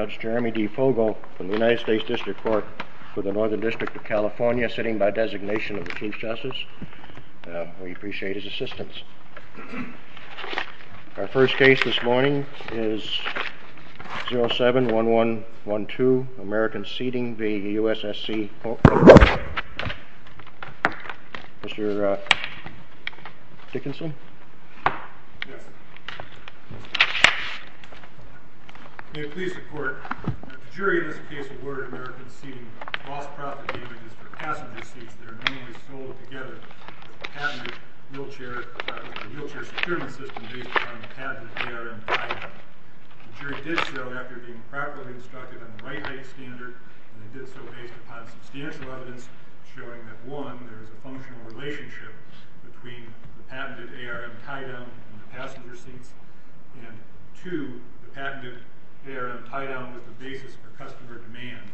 Judge Jeremy D. Fogel from the United States District Court for the Northern District of California, sitting by designation of the Chief Justice. We appreciate his assistance. Our first case this morning is 07-1112, Americans Seating v. USSC Group. Mr. Dickinson? Yes. May I please report? The jury in this case awarded Americans Seating a cross-profit damages for passenger seats that are normally sold together with a patented wheelchair-securement system based upon a patented ARM tie-down. The jury did so after being properly instructed on the right-weight standard, and they did so based upon substantial evidence showing that, one, there is a functional relationship between the patented ARM tie-down and the passenger seats, and two, the patented ARM tie-down was the basis for customer demand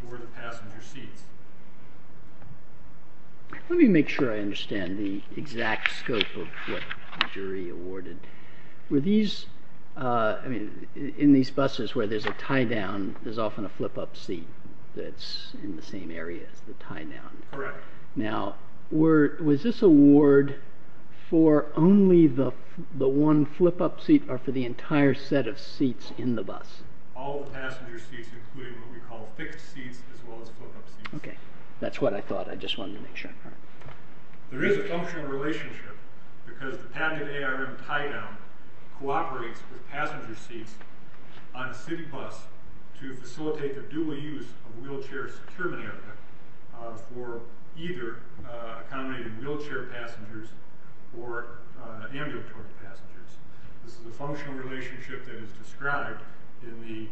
for the passenger seats. Let me make sure I understand the exact scope of what the jury awarded. In these buses where there's a tie-down, there's often a flip-up seat that's in the same area as the tie-down. Correct. Now, was this award for only the one flip-up seat or for the entire set of seats in the bus? All the passenger seats, including what we call fixed seats as well as flip-up seats. Okay. That's what I thought. I just wanted to make sure. There is a functional relationship because the patented ARM tie-down cooperates with passenger seats on a city bus to facilitate the dual use of wheelchair-securement equipment for either accommodating wheelchair passengers or ambulatory passengers. This is a functional relationship that is described in the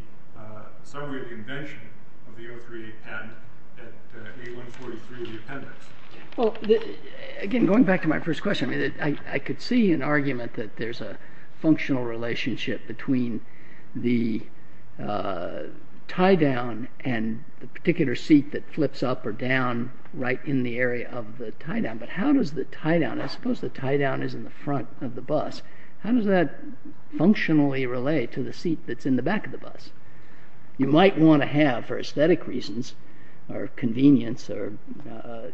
summary of the invention of the O3-N at A143 of the appendix. Again, going back to my first question, I could see an argument that there's a functional relationship between the tie-down and the particular seat that flips up or down right in the area of the tie-down, but how does the tie-down, I suppose the tie-down is in the front of the bus, how does that functionally relate to the seat that's in the back of the bus? You might want to have, for aesthetic reasons or convenience or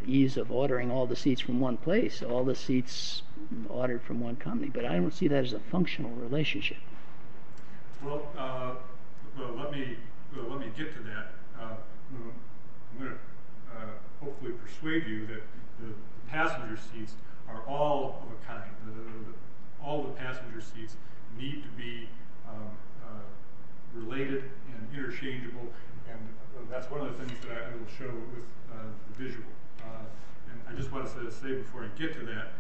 ease of ordering all the seats from one place, all the seats ordered from one company, but I don't see that as a functional relationship. Well, let me get to that. I'm going to hopefully persuade you that the passenger seats are all of a kind, all the passenger seats need to be related and interchangeable, and that's one of the things that I will show with the visual. I just want to say before I get to that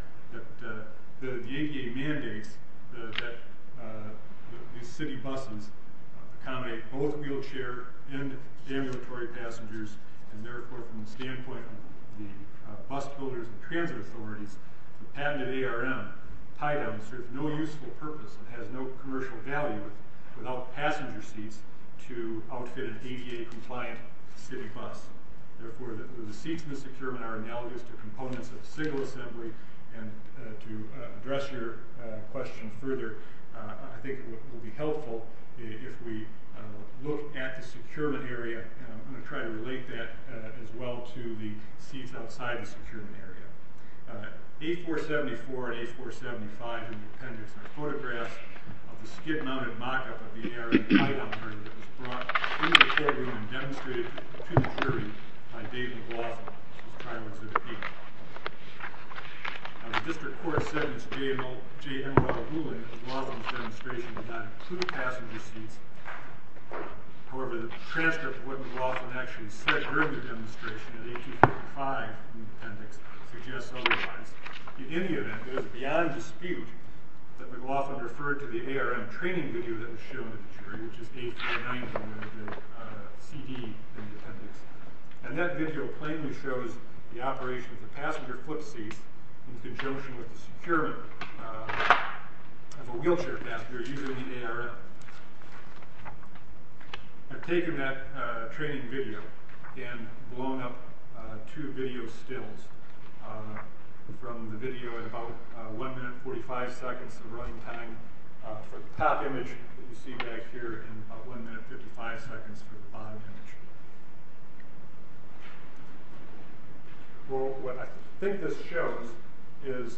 that the ADA mandates that the city buses accommodate both wheelchair and ambulatory passengers, and therefore from the standpoint of the bus builders and transit authorities, the patented ARM tie-down serves no useful purpose and has no commercial value without passenger seats to outfit an ADA-compliant city bus. Therefore, the seats in the securement are analogous to components of a single assembly, and to address your question further, I think it would be helpful if we look at the securement area, and I'm going to try to relate that as well to the seats outside the securement area. A474 and A475 in the appendix are photographs of the skid-mounted mock-up of the ARM tie-down by Dave McLaughlin of the Triwoods of the Peak. The district court sentenced J.M.R. Goulding to McLaughlin's demonstration did not include passenger seats, however the transcript of what McLaughlin actually said during the demonstration in 1845 in the appendix suggests otherwise. In any event, it was beyond dispute that McLaughlin referred to the ARM training video that was shown in the jury, which is A490 with a CD in the appendix. And that video plainly shows the operation of the passenger foot-seats in conjunction with the securement of a wheelchair passenger using the ARM. I've taken that training video and blown up two video stills from the video in about 1 minute 45 seconds of running time for the top image that you see back here and about 1 minute 55 seconds for the bottom image. Well, what I think this shows is,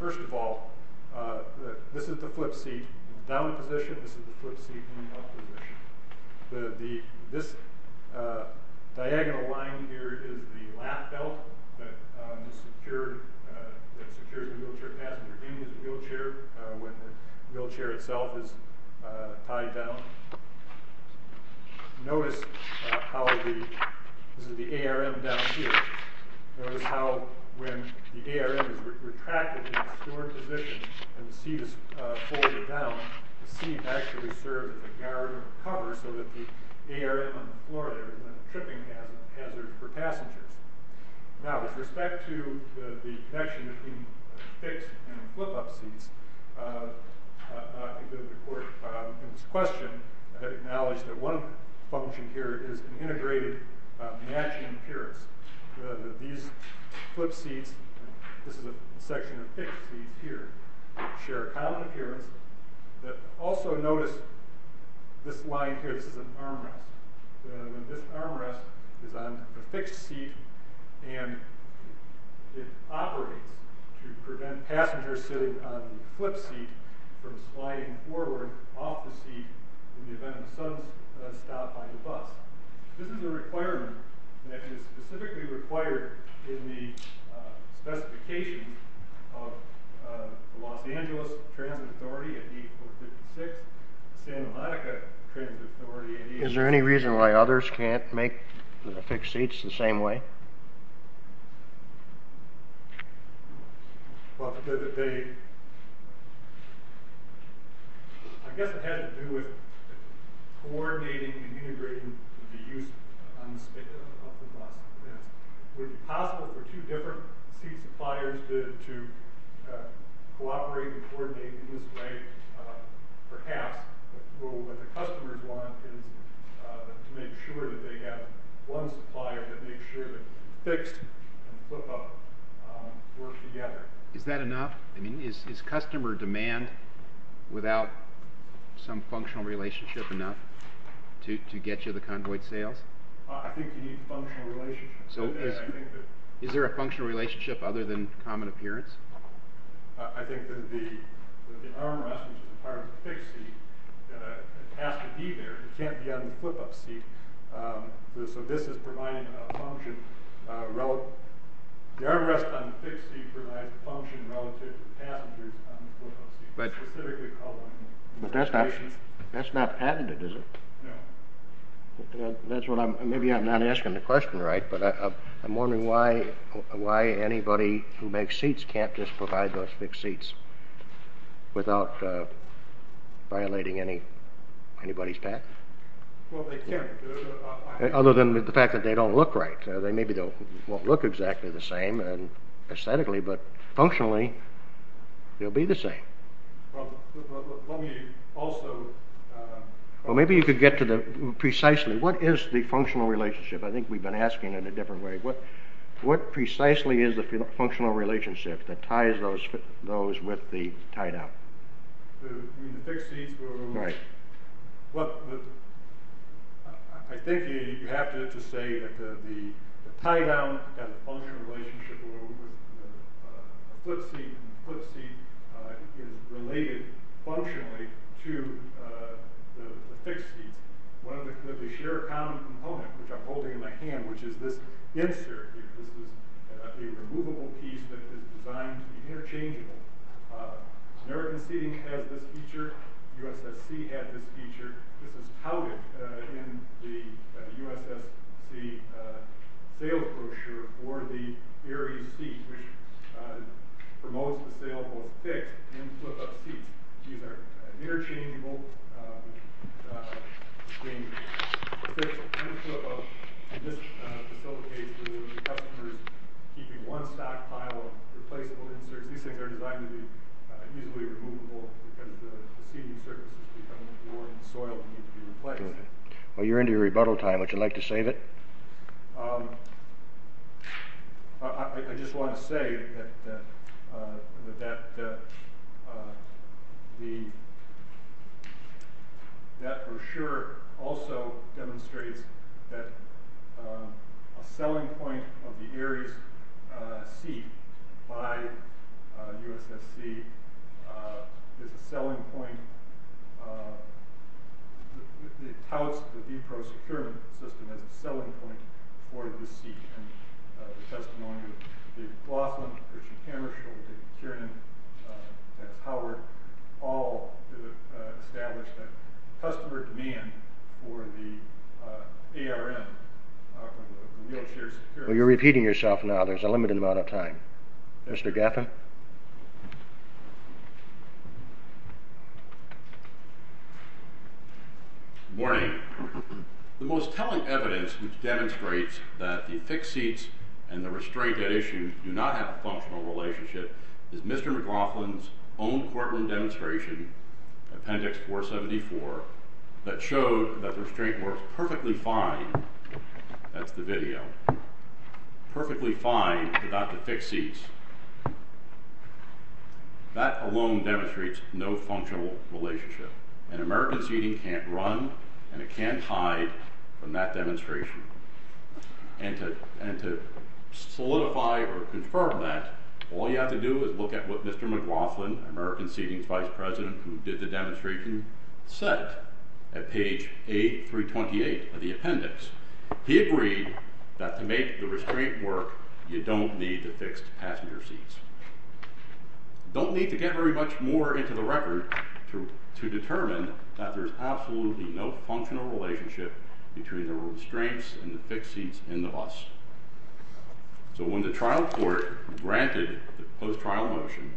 first of all, this is the foot-seat in the down position, this is the foot-seat in the up position. This diagonal line here is the lap belt that secures the wheelchair passenger in his wheelchair when the wheelchair itself is tied down. Notice how the ARM down here. Notice how when the ARM is retracted in its door position and the seat is folded down, the seat actually serves as a guard or a cover so that the air on the floor there is less tripping hazard for passengers. Now, with respect to the connection between fixed and flip-up seats, in this question, I had acknowledged that one function here is an integrated matching appearance. These flip-seats, this is a section of fixed seats here, share a common appearance, but also notice this line here, this is an armrest. This armrest is on the fixed seat and it operates to prevent passengers sitting on the flip-seat from sliding forward off the seat in the event of a sudden stop by the bus. This is a requirement that is specifically required in the specification of Los Angeles Transit Authority at 8456, Santa Monica Transit Authority at 8456. Is there any reason why others can't make fixed seats the same way? I guess it had to do with coordinating and integrating the use of the bus. Would it be possible for two different seat suppliers to cooperate and coordinate in this way? Perhaps. What the customers want is to make sure that they have one supplier that makes sure that fixed and flip-up work together. Is that enough? I mean, is customer demand without some functional relationship enough to get you the convoyed sales? I think you need functional relationships. Is there a functional relationship other than common appearance? I think that the armrest, which is part of the fixed seat, has to be there. It can't be on the flip-up seat. So this is providing a function. The armrest on the fixed seat provides a function relative to passengers on the flip-up seat. But that's not patented, is it? No. Maybe I'm not asking the question right, but I'm wondering why anybody who makes seats can't just provide those fixed seats without violating anybody's patent? Well, they can't, other than the fact that they don't look right. Maybe they won't look exactly the same aesthetically, but functionally they'll be the same. Well, let me also— Well, maybe you could get to precisely what is the functional relationship. I think we've been asking it a different way. What precisely is the functional relationship that ties those with the tie-down? The fixed seats were— Right. Well, I think you have to say that the tie-down has a functional relationship with the flip-seat, and the flip-seat is related functionally to the fixed seat. One of the shared common components, which I'm holding in my hand, which is this insert. This is a removable piece that is designed to be interchangeable. American Seating has this feature. U.S.S.C. has this feature. This is touted in the U.S.S.C. sale brochure for the Aerie seat, which promotes the sale of both fixed and flip-up seats. These are interchangeable, being fixed and flip-up, and this facilitates the customers keeping one stockpile of replaceable inserts. These things are designed to be easily removable because the seating surface is becoming worn, and the soil needs to be replaced. Well, you're into your rebuttal time. Would you like to save it? I just want to say that that brochure also demonstrates that a selling point of the Aerie seat by U.S.S.C. is a selling point. The touts of the DEPRO securement system is a selling point for this seat, and the testimony of Dave Laughlin, Richard Hammershaw, David Kiernan, and Howard all establish that customer demand for the ARN, for the wheelchair secure... Well, you're repeating yourself now. There's a limited amount of time. Mr. Gaffin? Good morning. The most telling evidence which demonstrates that the fixed seats and the restraint at issue do not have a functional relationship is Mr. McLaughlin's own Portland demonstration, Appendix 474, that showed that the restraint works perfectly fine... That's the video. ...perfectly fine without the fixed seats. That alone demonstrates no functional relationship, and American Seating can't run, and it can't hide from that demonstration. And to solidify or confirm that, all you have to do is look at what Mr. McLaughlin, American Seating's vice president, who did the demonstration, said at page 328 of the appendix. He agreed that to make the restraint work, you don't need the fixed passenger seats. You don't need to get very much more into the record to determine that there's absolutely no functional relationship between the restraints and the fixed seats in the bus. So when the trial court granted the post-trial motion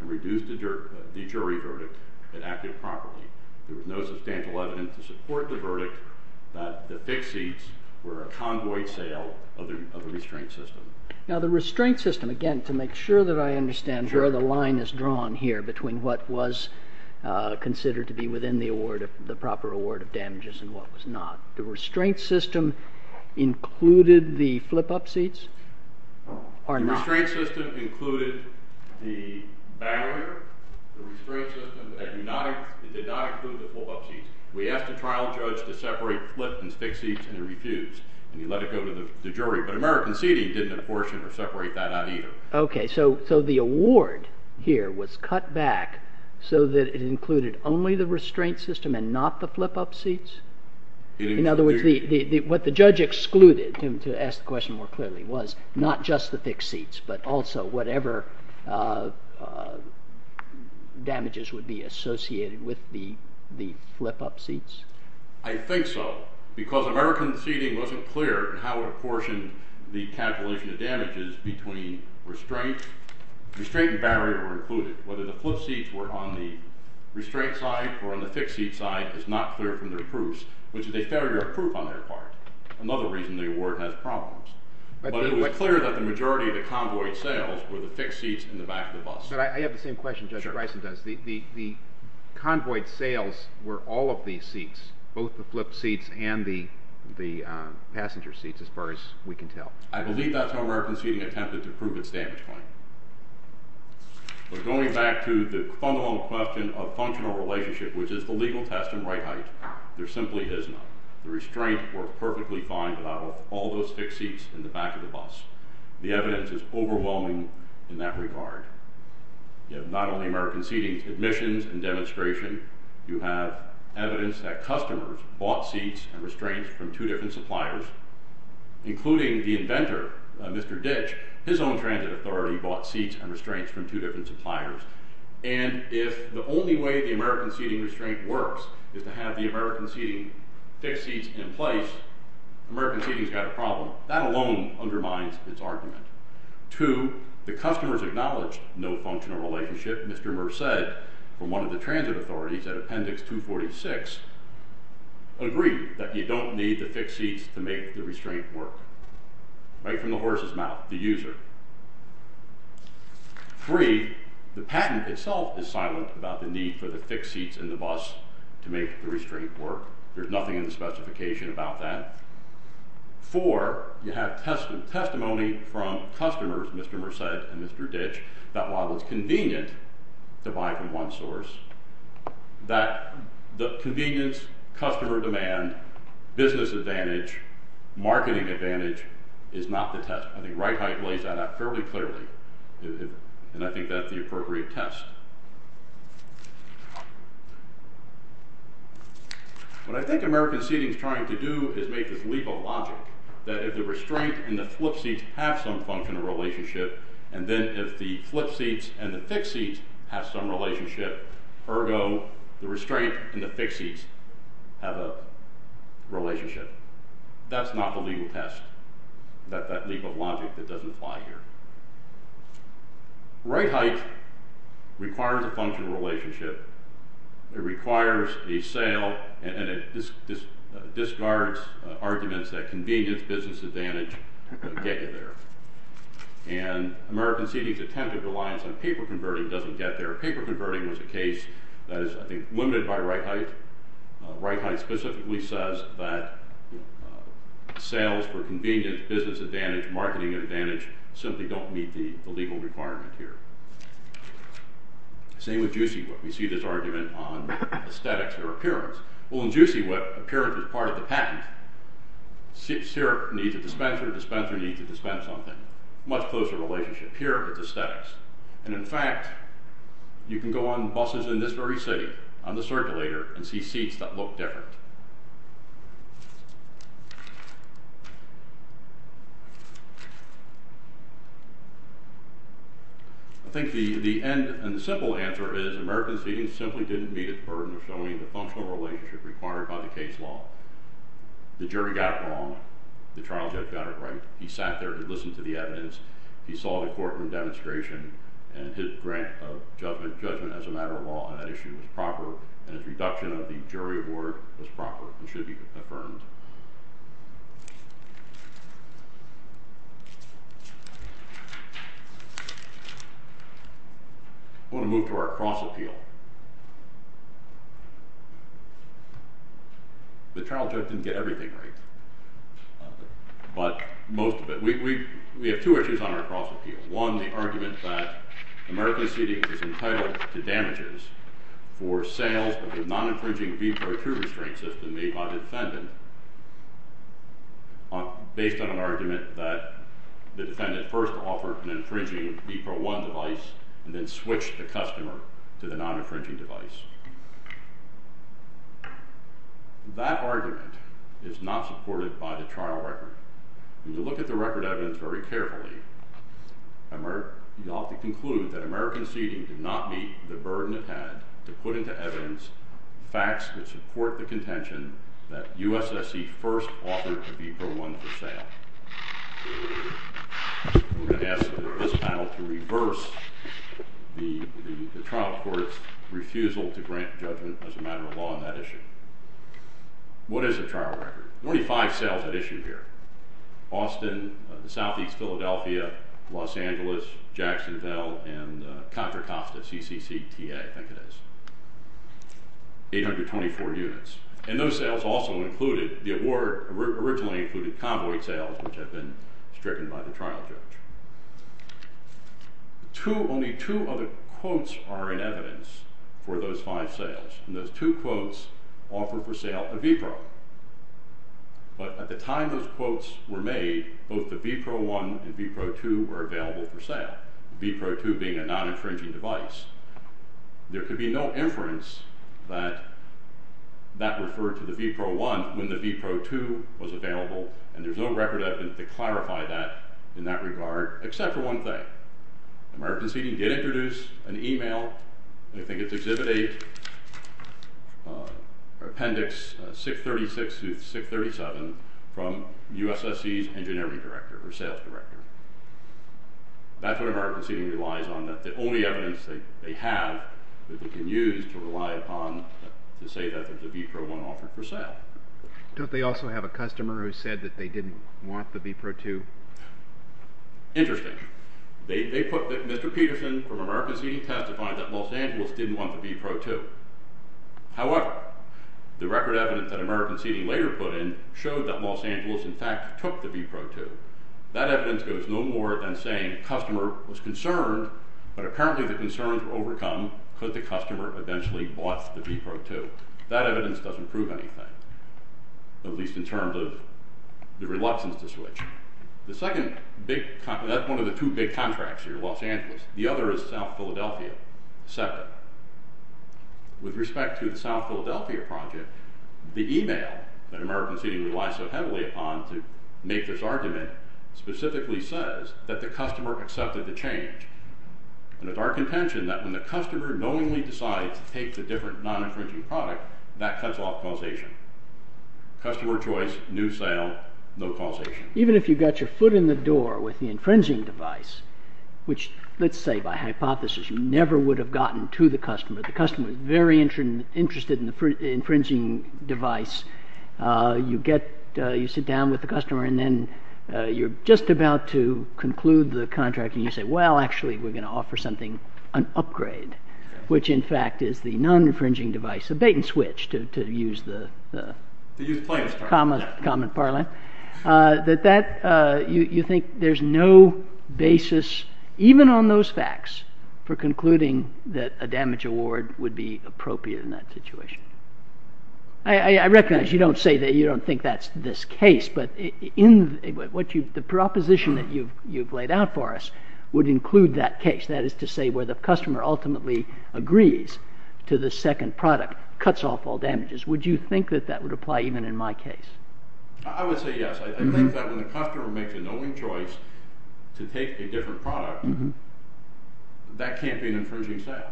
and reduced the jury verdict in active property, there was no substantial evidence to support the verdict that the fixed seats were a convoyed sale of the restraint system. Now the restraint system, again, to make sure that I understand, the line is drawn here between what was considered to be within the proper award of damages and what was not. The restraint system included the flip-up seats or not? The restraint system included the barrier. The restraint system did not include the flip-up seats. We asked the trial judge to separate flip and fixed seats, and he refused. And he let it go to the jury. But American Seating didn't apportion or separate that out either. Okay, so the award here was cut back so that it included only the restraint system and not the flip-up seats? In other words, what the judge excluded, to ask the question more clearly, was not just the fixed seats but also whatever damages would be associated with the flip-up seats? I think so, because American Seating wasn't clear in how it apportioned the calculation of damages between restraint. Restraint and barrier were included. Whether the flip seats were on the restraint side or on the fixed seat side is not clear from their proofs, which is a failure of proof on their part, another reason the award has problems. But it was clear that the majority of the convoy sales were the fixed seats in the back of the bus. But I have the same question Judge Bryson does. The convoy sales were all of these seats, both the flip seats and the passenger seats, as far as we can tell. I believe that's how American Seating attempted to prove its damage claim. But going back to the fundamental question of functional relationship, which is the legal test and right height, there simply is not. The restraint worked perfectly fine without all those fixed seats in the back of the bus. The evidence is overwhelming in that regard. You have not only American Seating's admissions and demonstration, you have evidence that customers bought seats and restraints from two different suppliers, including the inventor, Mr. Ditch, his own transit authority bought seats and restraints from two different suppliers. And if the only way the American Seating restraint works is to have the American Seating fixed seats in place, American Seating's got a problem. That alone undermines its argument. Two, the customers acknowledged no functional relationship. Mr. Murr said, from one of the transit authorities at Appendix 246, agree that you don't need the fixed seats to make the restraint work. Right from the horse's mouth, the user. Three, the patent itself is silent about the need for the fixed seats in the bus to make the restraint work. There's nothing in the specification about that. Four, you have testimony from customers, Mr. Murr said and Mr. Ditch, that while it's convenient to buy from one source, that the convenience, customer demand, business advantage, marketing advantage is not the test. I think Reithe lays that out fairly clearly, and I think that's the appropriate test. What I think American Seating's trying to do is make this legal logic that if the restraint and the flip seats have some functional relationship, and then if the flip seats and the fixed seats have some relationship, ergo, the restraint and the fixed seats have a relationship. That's not the legal test, that legal logic that doesn't apply here. Reitheit requires a functional relationship. It requires a sale, and it discards arguments that convenience, business advantage, get you there. And American Seating's attempt at reliance on paper converting doesn't get there. Paper converting was a case that is, I think, limited by Reitheit. Reitheit specifically says that sales for convenience, business advantage, marketing advantage simply don't meet the legal requirement here. Same with Juicy Whip. We see this argument on aesthetics or appearance. Well, in Juicy Whip, appearance is part of the patent. Syrup needs a dispenser, dispenser needs to dispense something. Much closer relationship here with aesthetics. And, in fact, you can go on buses in this very city, on the circulator, and see seats that look different. I think the end and the simple answer is American Seating simply didn't meet its burden of showing the functional relationship required by the case law. The jury got it wrong. The trial judge got it right. He sat there, he listened to the evidence, he saw the courtroom demonstration, and his grant of judgment as a matter of law on that issue was proper, and his reduction of the jury award was proper and should be affirmed. I want to move to our cross-appeal. The trial judge didn't get everything right. But most of it. We have two issues on our cross-appeal. One, the argument that American Seating is entitled to damages for sales of a non-infringing Bepro2 restraint system made by the defendant, based on an argument that the defendant first offered an infringing Bepro1 device and then switched the customer to the non-infringing device. That argument is not supported by the trial record. When you look at the record evidence very carefully, you'll have to conclude that American Seating did not meet the burden it had to put into evidence facts that support the contention that USSC first offered a Bepro1 for sale. We're going to ask this panel to reverse the trial court's refusal to grant judgment as a matter of law on that issue. What is the trial record? Only five sales had issued here. Austin, Southeast Philadelphia, Los Angeles, Jacksonville, and Contra Costa, CCCTA, I think it is. 824 units. And those sales also included, the award originally included convoy sales, which had been stricken by the trial judge. Only two other quotes are in evidence for those five sales, and those two quotes offer for sale a Bepro. But at the time those quotes were made, both the Bepro1 and Bepro2 were available for sale, Bepro2 being a non-infringing device. There could be no inference that that referred to the Bepro1 when the Bepro2 was available, and there's no record evidence to clarify that in that regard, except for one thing. American Seeding did introduce an email, I think it's Exhibit 8, or Appendix 636-637, from USSC's engineering director, or sales director. That's what American Seeding relies on, that the only evidence they have that they can use to rely upon to say that there's a Bepro1 offered for sale. Don't they also have a customer who said that they didn't want the Bepro2? Interesting. They put that Mr. Peterson from American Seeding testified that Los Angeles didn't want the Bepro2. However, the record evidence that American Seeding later put in showed that Los Angeles in fact took the Bepro2. That evidence goes no more than saying the customer was concerned, but apparently the concerns were overcome because the customer eventually bought the Bepro2. That evidence doesn't prove anything, at least in terms of the reluctance to switch. The second big, that's one of the two big contracts here, Los Angeles. The other is South Philadelphia, separate. With respect to the South Philadelphia project, the email that American Seeding relies so heavily upon to make this argument specifically says that the customer accepted the change. And it's our contention that when the customer knowingly decides to take the different non-infringing product, that cuts off causation. Customer choice, new sale, no causation. Even if you got your foot in the door with the infringing device, which, let's say by hypothesis, you never would have gotten to the customer. The customer is very interested in the infringing device. You sit down with the customer and then you're just about to conclude the contract and you say, well, actually we're going to offer something, an upgrade, which in fact is the non-infringing device, a bait-and-switch, to use the common parlance. That you think there's no basis, even on those facts, for concluding that a damage award would be appropriate in that situation. I recognize you don't think that's this case, but the proposition that you've laid out for us would include that case. That is to say where the customer ultimately agrees to the second product, cuts off all damages. Would you think that that would apply even in my case? I would say yes. I think that when the customer makes a knowing choice to take a different product, that can't be an infringing sale.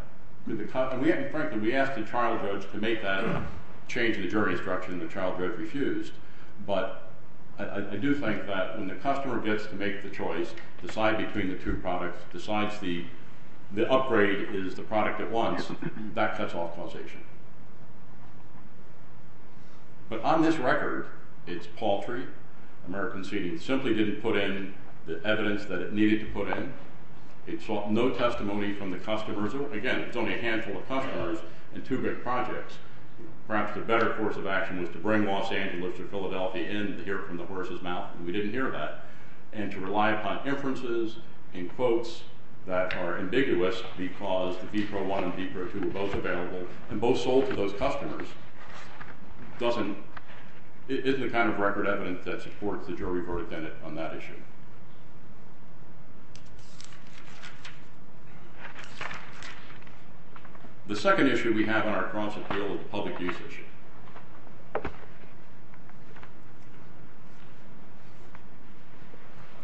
Frankly, we asked the child judge to make that and change the jury's direction, and the child judge refused. But I do think that when the customer gets to make the choice, decide between the two products, decides the upgrade is the product it wants, that cuts off causation. But on this record, it's paltry. American Seeding simply didn't put in the evidence that it needed to put in. It sought no testimony from the customers. Again, it's only a handful of customers and two big projects. Perhaps the better course of action was to bring Los Angeles or Philadelphia in to hear it from the horse's mouth. We didn't hear that. And to rely upon inferences and quotes that are ambiguous because the B-Pro-1 and B-Pro-2 were both available and both sold to those customers isn't the kind of record evidence that supports the jury verdict on that issue. The second issue we have on our cross-appeal is the public use issue.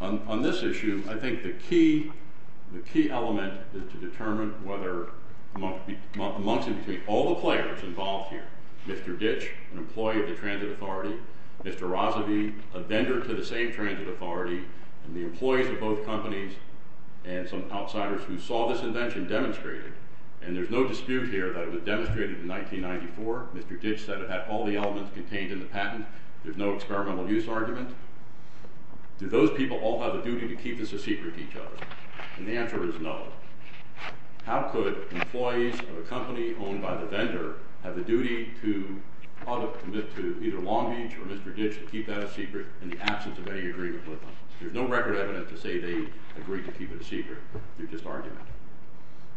On this issue, I think the key element is to determine whether amongst and between all the players involved here, Mr. Ditch, an employee of the Transit Authority, Mr. Razavi, a vendor to the same Transit Authority, and the employees of both companies and some outsiders who saw this invention demonstrated, and there's no dispute here that it was demonstrated in 1994. Mr. Ditch said it had all the elements contained in the patent. There's no experimental use argument. Do those people all have a duty to keep this a secret to each other? And the answer is no. How could employees of a company owned by the vendor have a duty to either Long Beach or Mr. Ditch to keep that a secret in the absence of any agreement with them? There's no record evidence to say they agreed to keep it a secret. They're just arguing.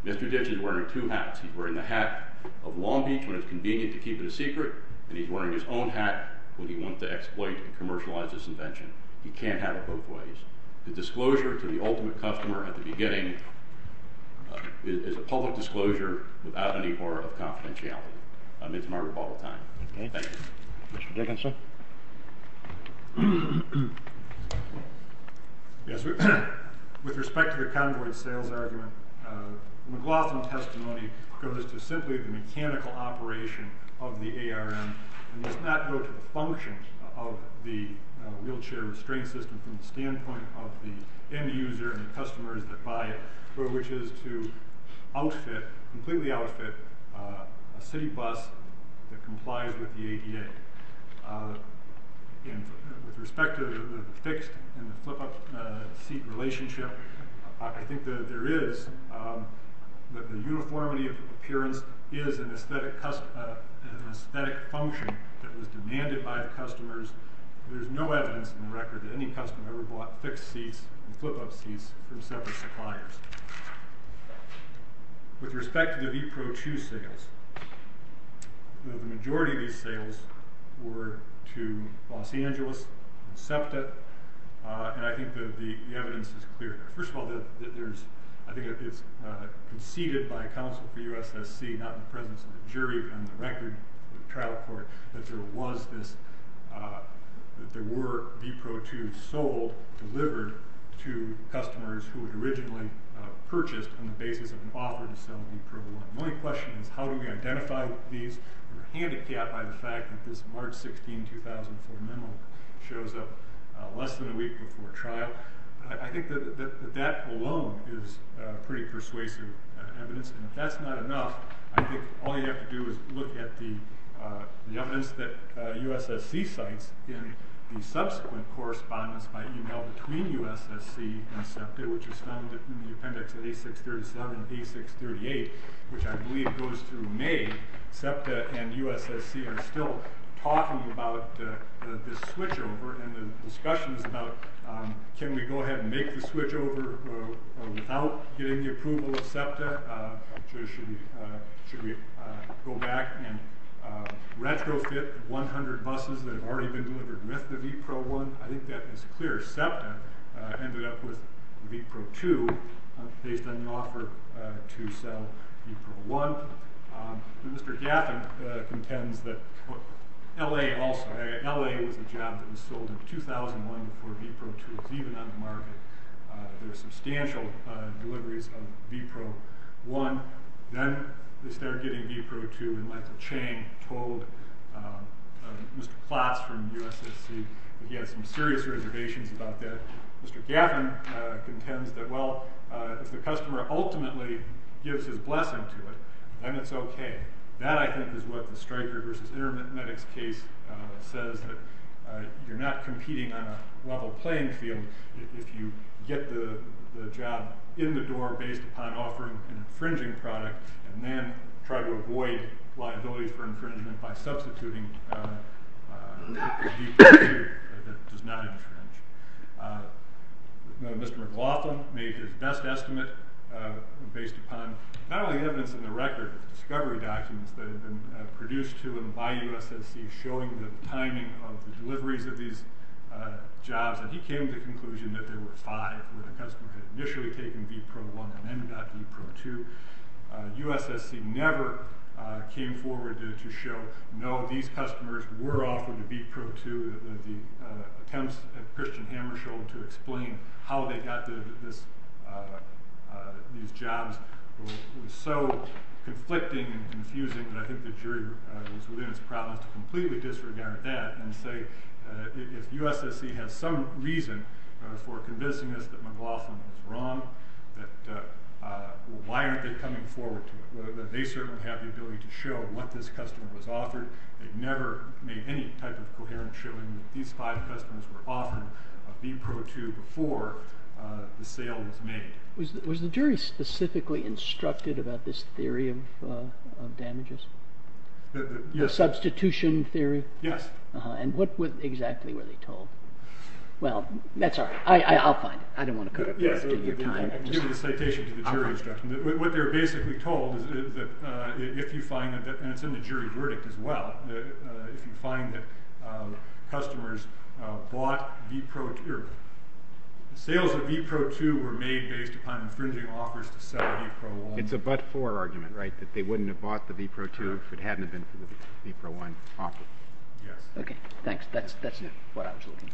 Mr. Ditch is wearing two hats. He's wearing the hat of Long Beach when it's convenient to keep it a secret, and he's wearing his own hat when he wants to exploit and commercialize this invention. He can't have it both ways. The disclosure to the ultimate customer at the beginning is a public disclosure without any horror of confidentiality. It's a matter of all time. Thank you. Mr. Dickinson? Yes, sir? With respect to the convoy sales argument, the McLaughlin testimony comes to simply the mechanical operation of the ARM and does not go to the function of the wheelchair restraint system from the standpoint of the end user and the customers that buy it, which is to outfit, completely outfit, a city bus that complies with the ADA. With respect to the fixed and the flip-up seat relationship, I think that there is, that the uniformity of appearance is an aesthetic function that was demanded by the customers. There's no evidence in the record that any customer ever bought fixed seats and flip-up seats from separate suppliers. With respect to the Vepro 2 sales, the majority of these sales were to Los Angeles and SEPTA, and I think that the evidence is clear. First of all, I think it's conceded by a counsel for USSC, not in the presence of the jury, but on the record of the trial court, that there was this, that there were Vepro 2s sold, delivered, to customers who had originally purchased on the basis of an offer to sell Vepro 1. My question is, how do we identify these? We're handicapped by the fact that this March 16, 2004 memo shows up less than a week before trial. I think that that alone is pretty persuasive evidence, and if that's not enough, I think all you have to do is look at the evidence that USSC cites in the subsequent correspondence by email between USSC and SEPTA, which was found in the appendix of A637 and A638, which I believe goes through May. SEPTA and USSC are still talking about this switchover and the discussions about, can we go ahead and make the switchover without getting the approval of SEPTA? Should we go back and retrofit 100 buses that have already been delivered with the Vepro 1? I think that is clear. SEPTA ended up with Vepro 2 based on the offer to sell Vepro 1. Mr. Gaffin contends that LA also, LA was the job that was sold in 2001 before Vepro 2 was even on the market. There were substantial deliveries of Vepro 1. Then they started getting Vepro 2 and Michael Chang told Mr. Klotz from USSC that he had some serious reservations about that. Mr. Gaffin contends that, well, if the customer ultimately gives his blessing to it, then it's okay. That, I think, is what the Stryker versus Intermedics case says, that you're not competing on a level playing field if you get the job in the door based upon offering an infringing product and then try to avoid liability for infringement by substituting Vepro 2 that does not infringe. Mr. McLaughlin made his best estimate based upon not only evidence in the record, but discovery documents that had been produced to him by USSC showing the timing of the deliveries of these jobs, and he came to the conclusion that there were five where the customer had initially taken Vepro 1 and then got Vepro 2. USSC never came forward to show, no, these customers were offering Vepro 2. The attempts that Christian Hammer showed to explain how they got these jobs was so conflicting and confusing that I think the jury was within its prowess to completely disregard that and say, if USSC has some reason for convincing us that McLaughlin was wrong, why aren't they coming forward to it? They certainly have the ability to show what this customer has offered. They've never made any type of coherent showing that these five customers were offering Vepro 2 before the sale was made. Was the jury specifically instructed about this theory of damages? Yes. The substitution theory? Yes. And what exactly were they told? Well, that's all right. I'll find it. I don't want to cut and paste in your time. I'll give you the citation to the jury instruction. What they were basically told is that if you find that, and it's in the jury verdict as well, if you find that customers bought Vepro 2, the sales of Vepro 2 were made based upon infringing offers to sell Vepro 1. It's a but-for argument, right? That they wouldn't have bought the Vepro 2 if it hadn't been for the Vepro 1 offer. Yes. OK, thanks. That's what I was looking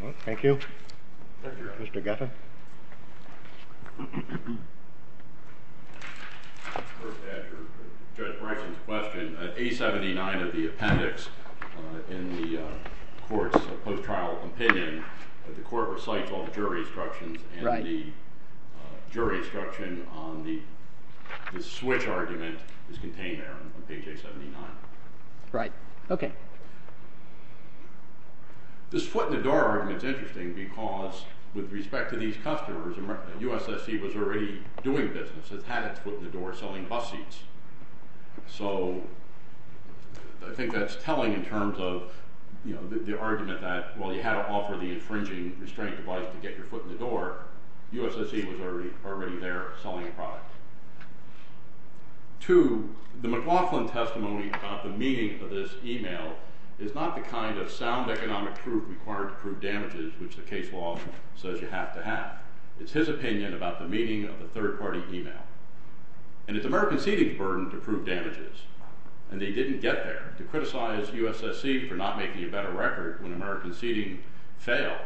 for. Thank you. Mr. Guffin? First, to answer Judge Branson's question, A79 of the appendix in the court's post-trial opinion that the court recites all the jury instructions, and the jury instruction on the switch argument is contained there on page A79. Right. OK. This foot-in-the-door argument is interesting because with respect to these customers, USSC was already doing business. It had its foot in the door selling bus seats. So I think that's telling in terms of the argument that, while you had to offer the infringing restraint device to get your foot in the door, USSC was already there selling a product. Two, the McLaughlin testimony about the meaning of this email is not the kind of sound economic proof required to prove damages, which the case law says you have to have. It's his opinion about the meaning of a third-party email. And it's American seating's burden to prove damages. And they didn't get there to criticize USSC for not making a better record when American seating failed.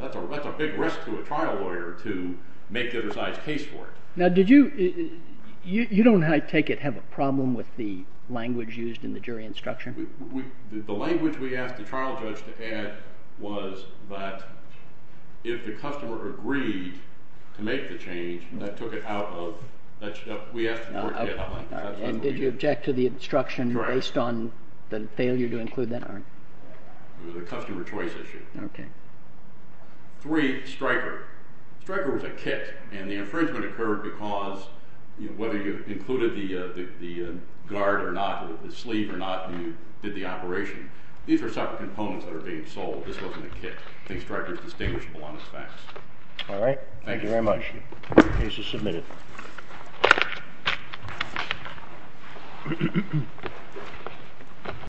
That's a big risk to a trial lawyer to make a precise case for it. Now, did you—you don't, I take it, have a problem with the language used in the jury instruction? The language we asked the trial judge to add was that if the customer agreed to make the change, that took it out of—we asked him to work it out. Did you object to the instruction based on the failure to include that argument? It was a customer choice issue. Okay. Three, Stryker. Stryker was a kit, and the infringement occurred because whether you included the guard or not, the sleeve or not, you did the operation. These are separate components that are being sold. This wasn't a kit. I think Stryker's distinguishable on the specs. All right. Thank you. Thank you very much. The case is submitted.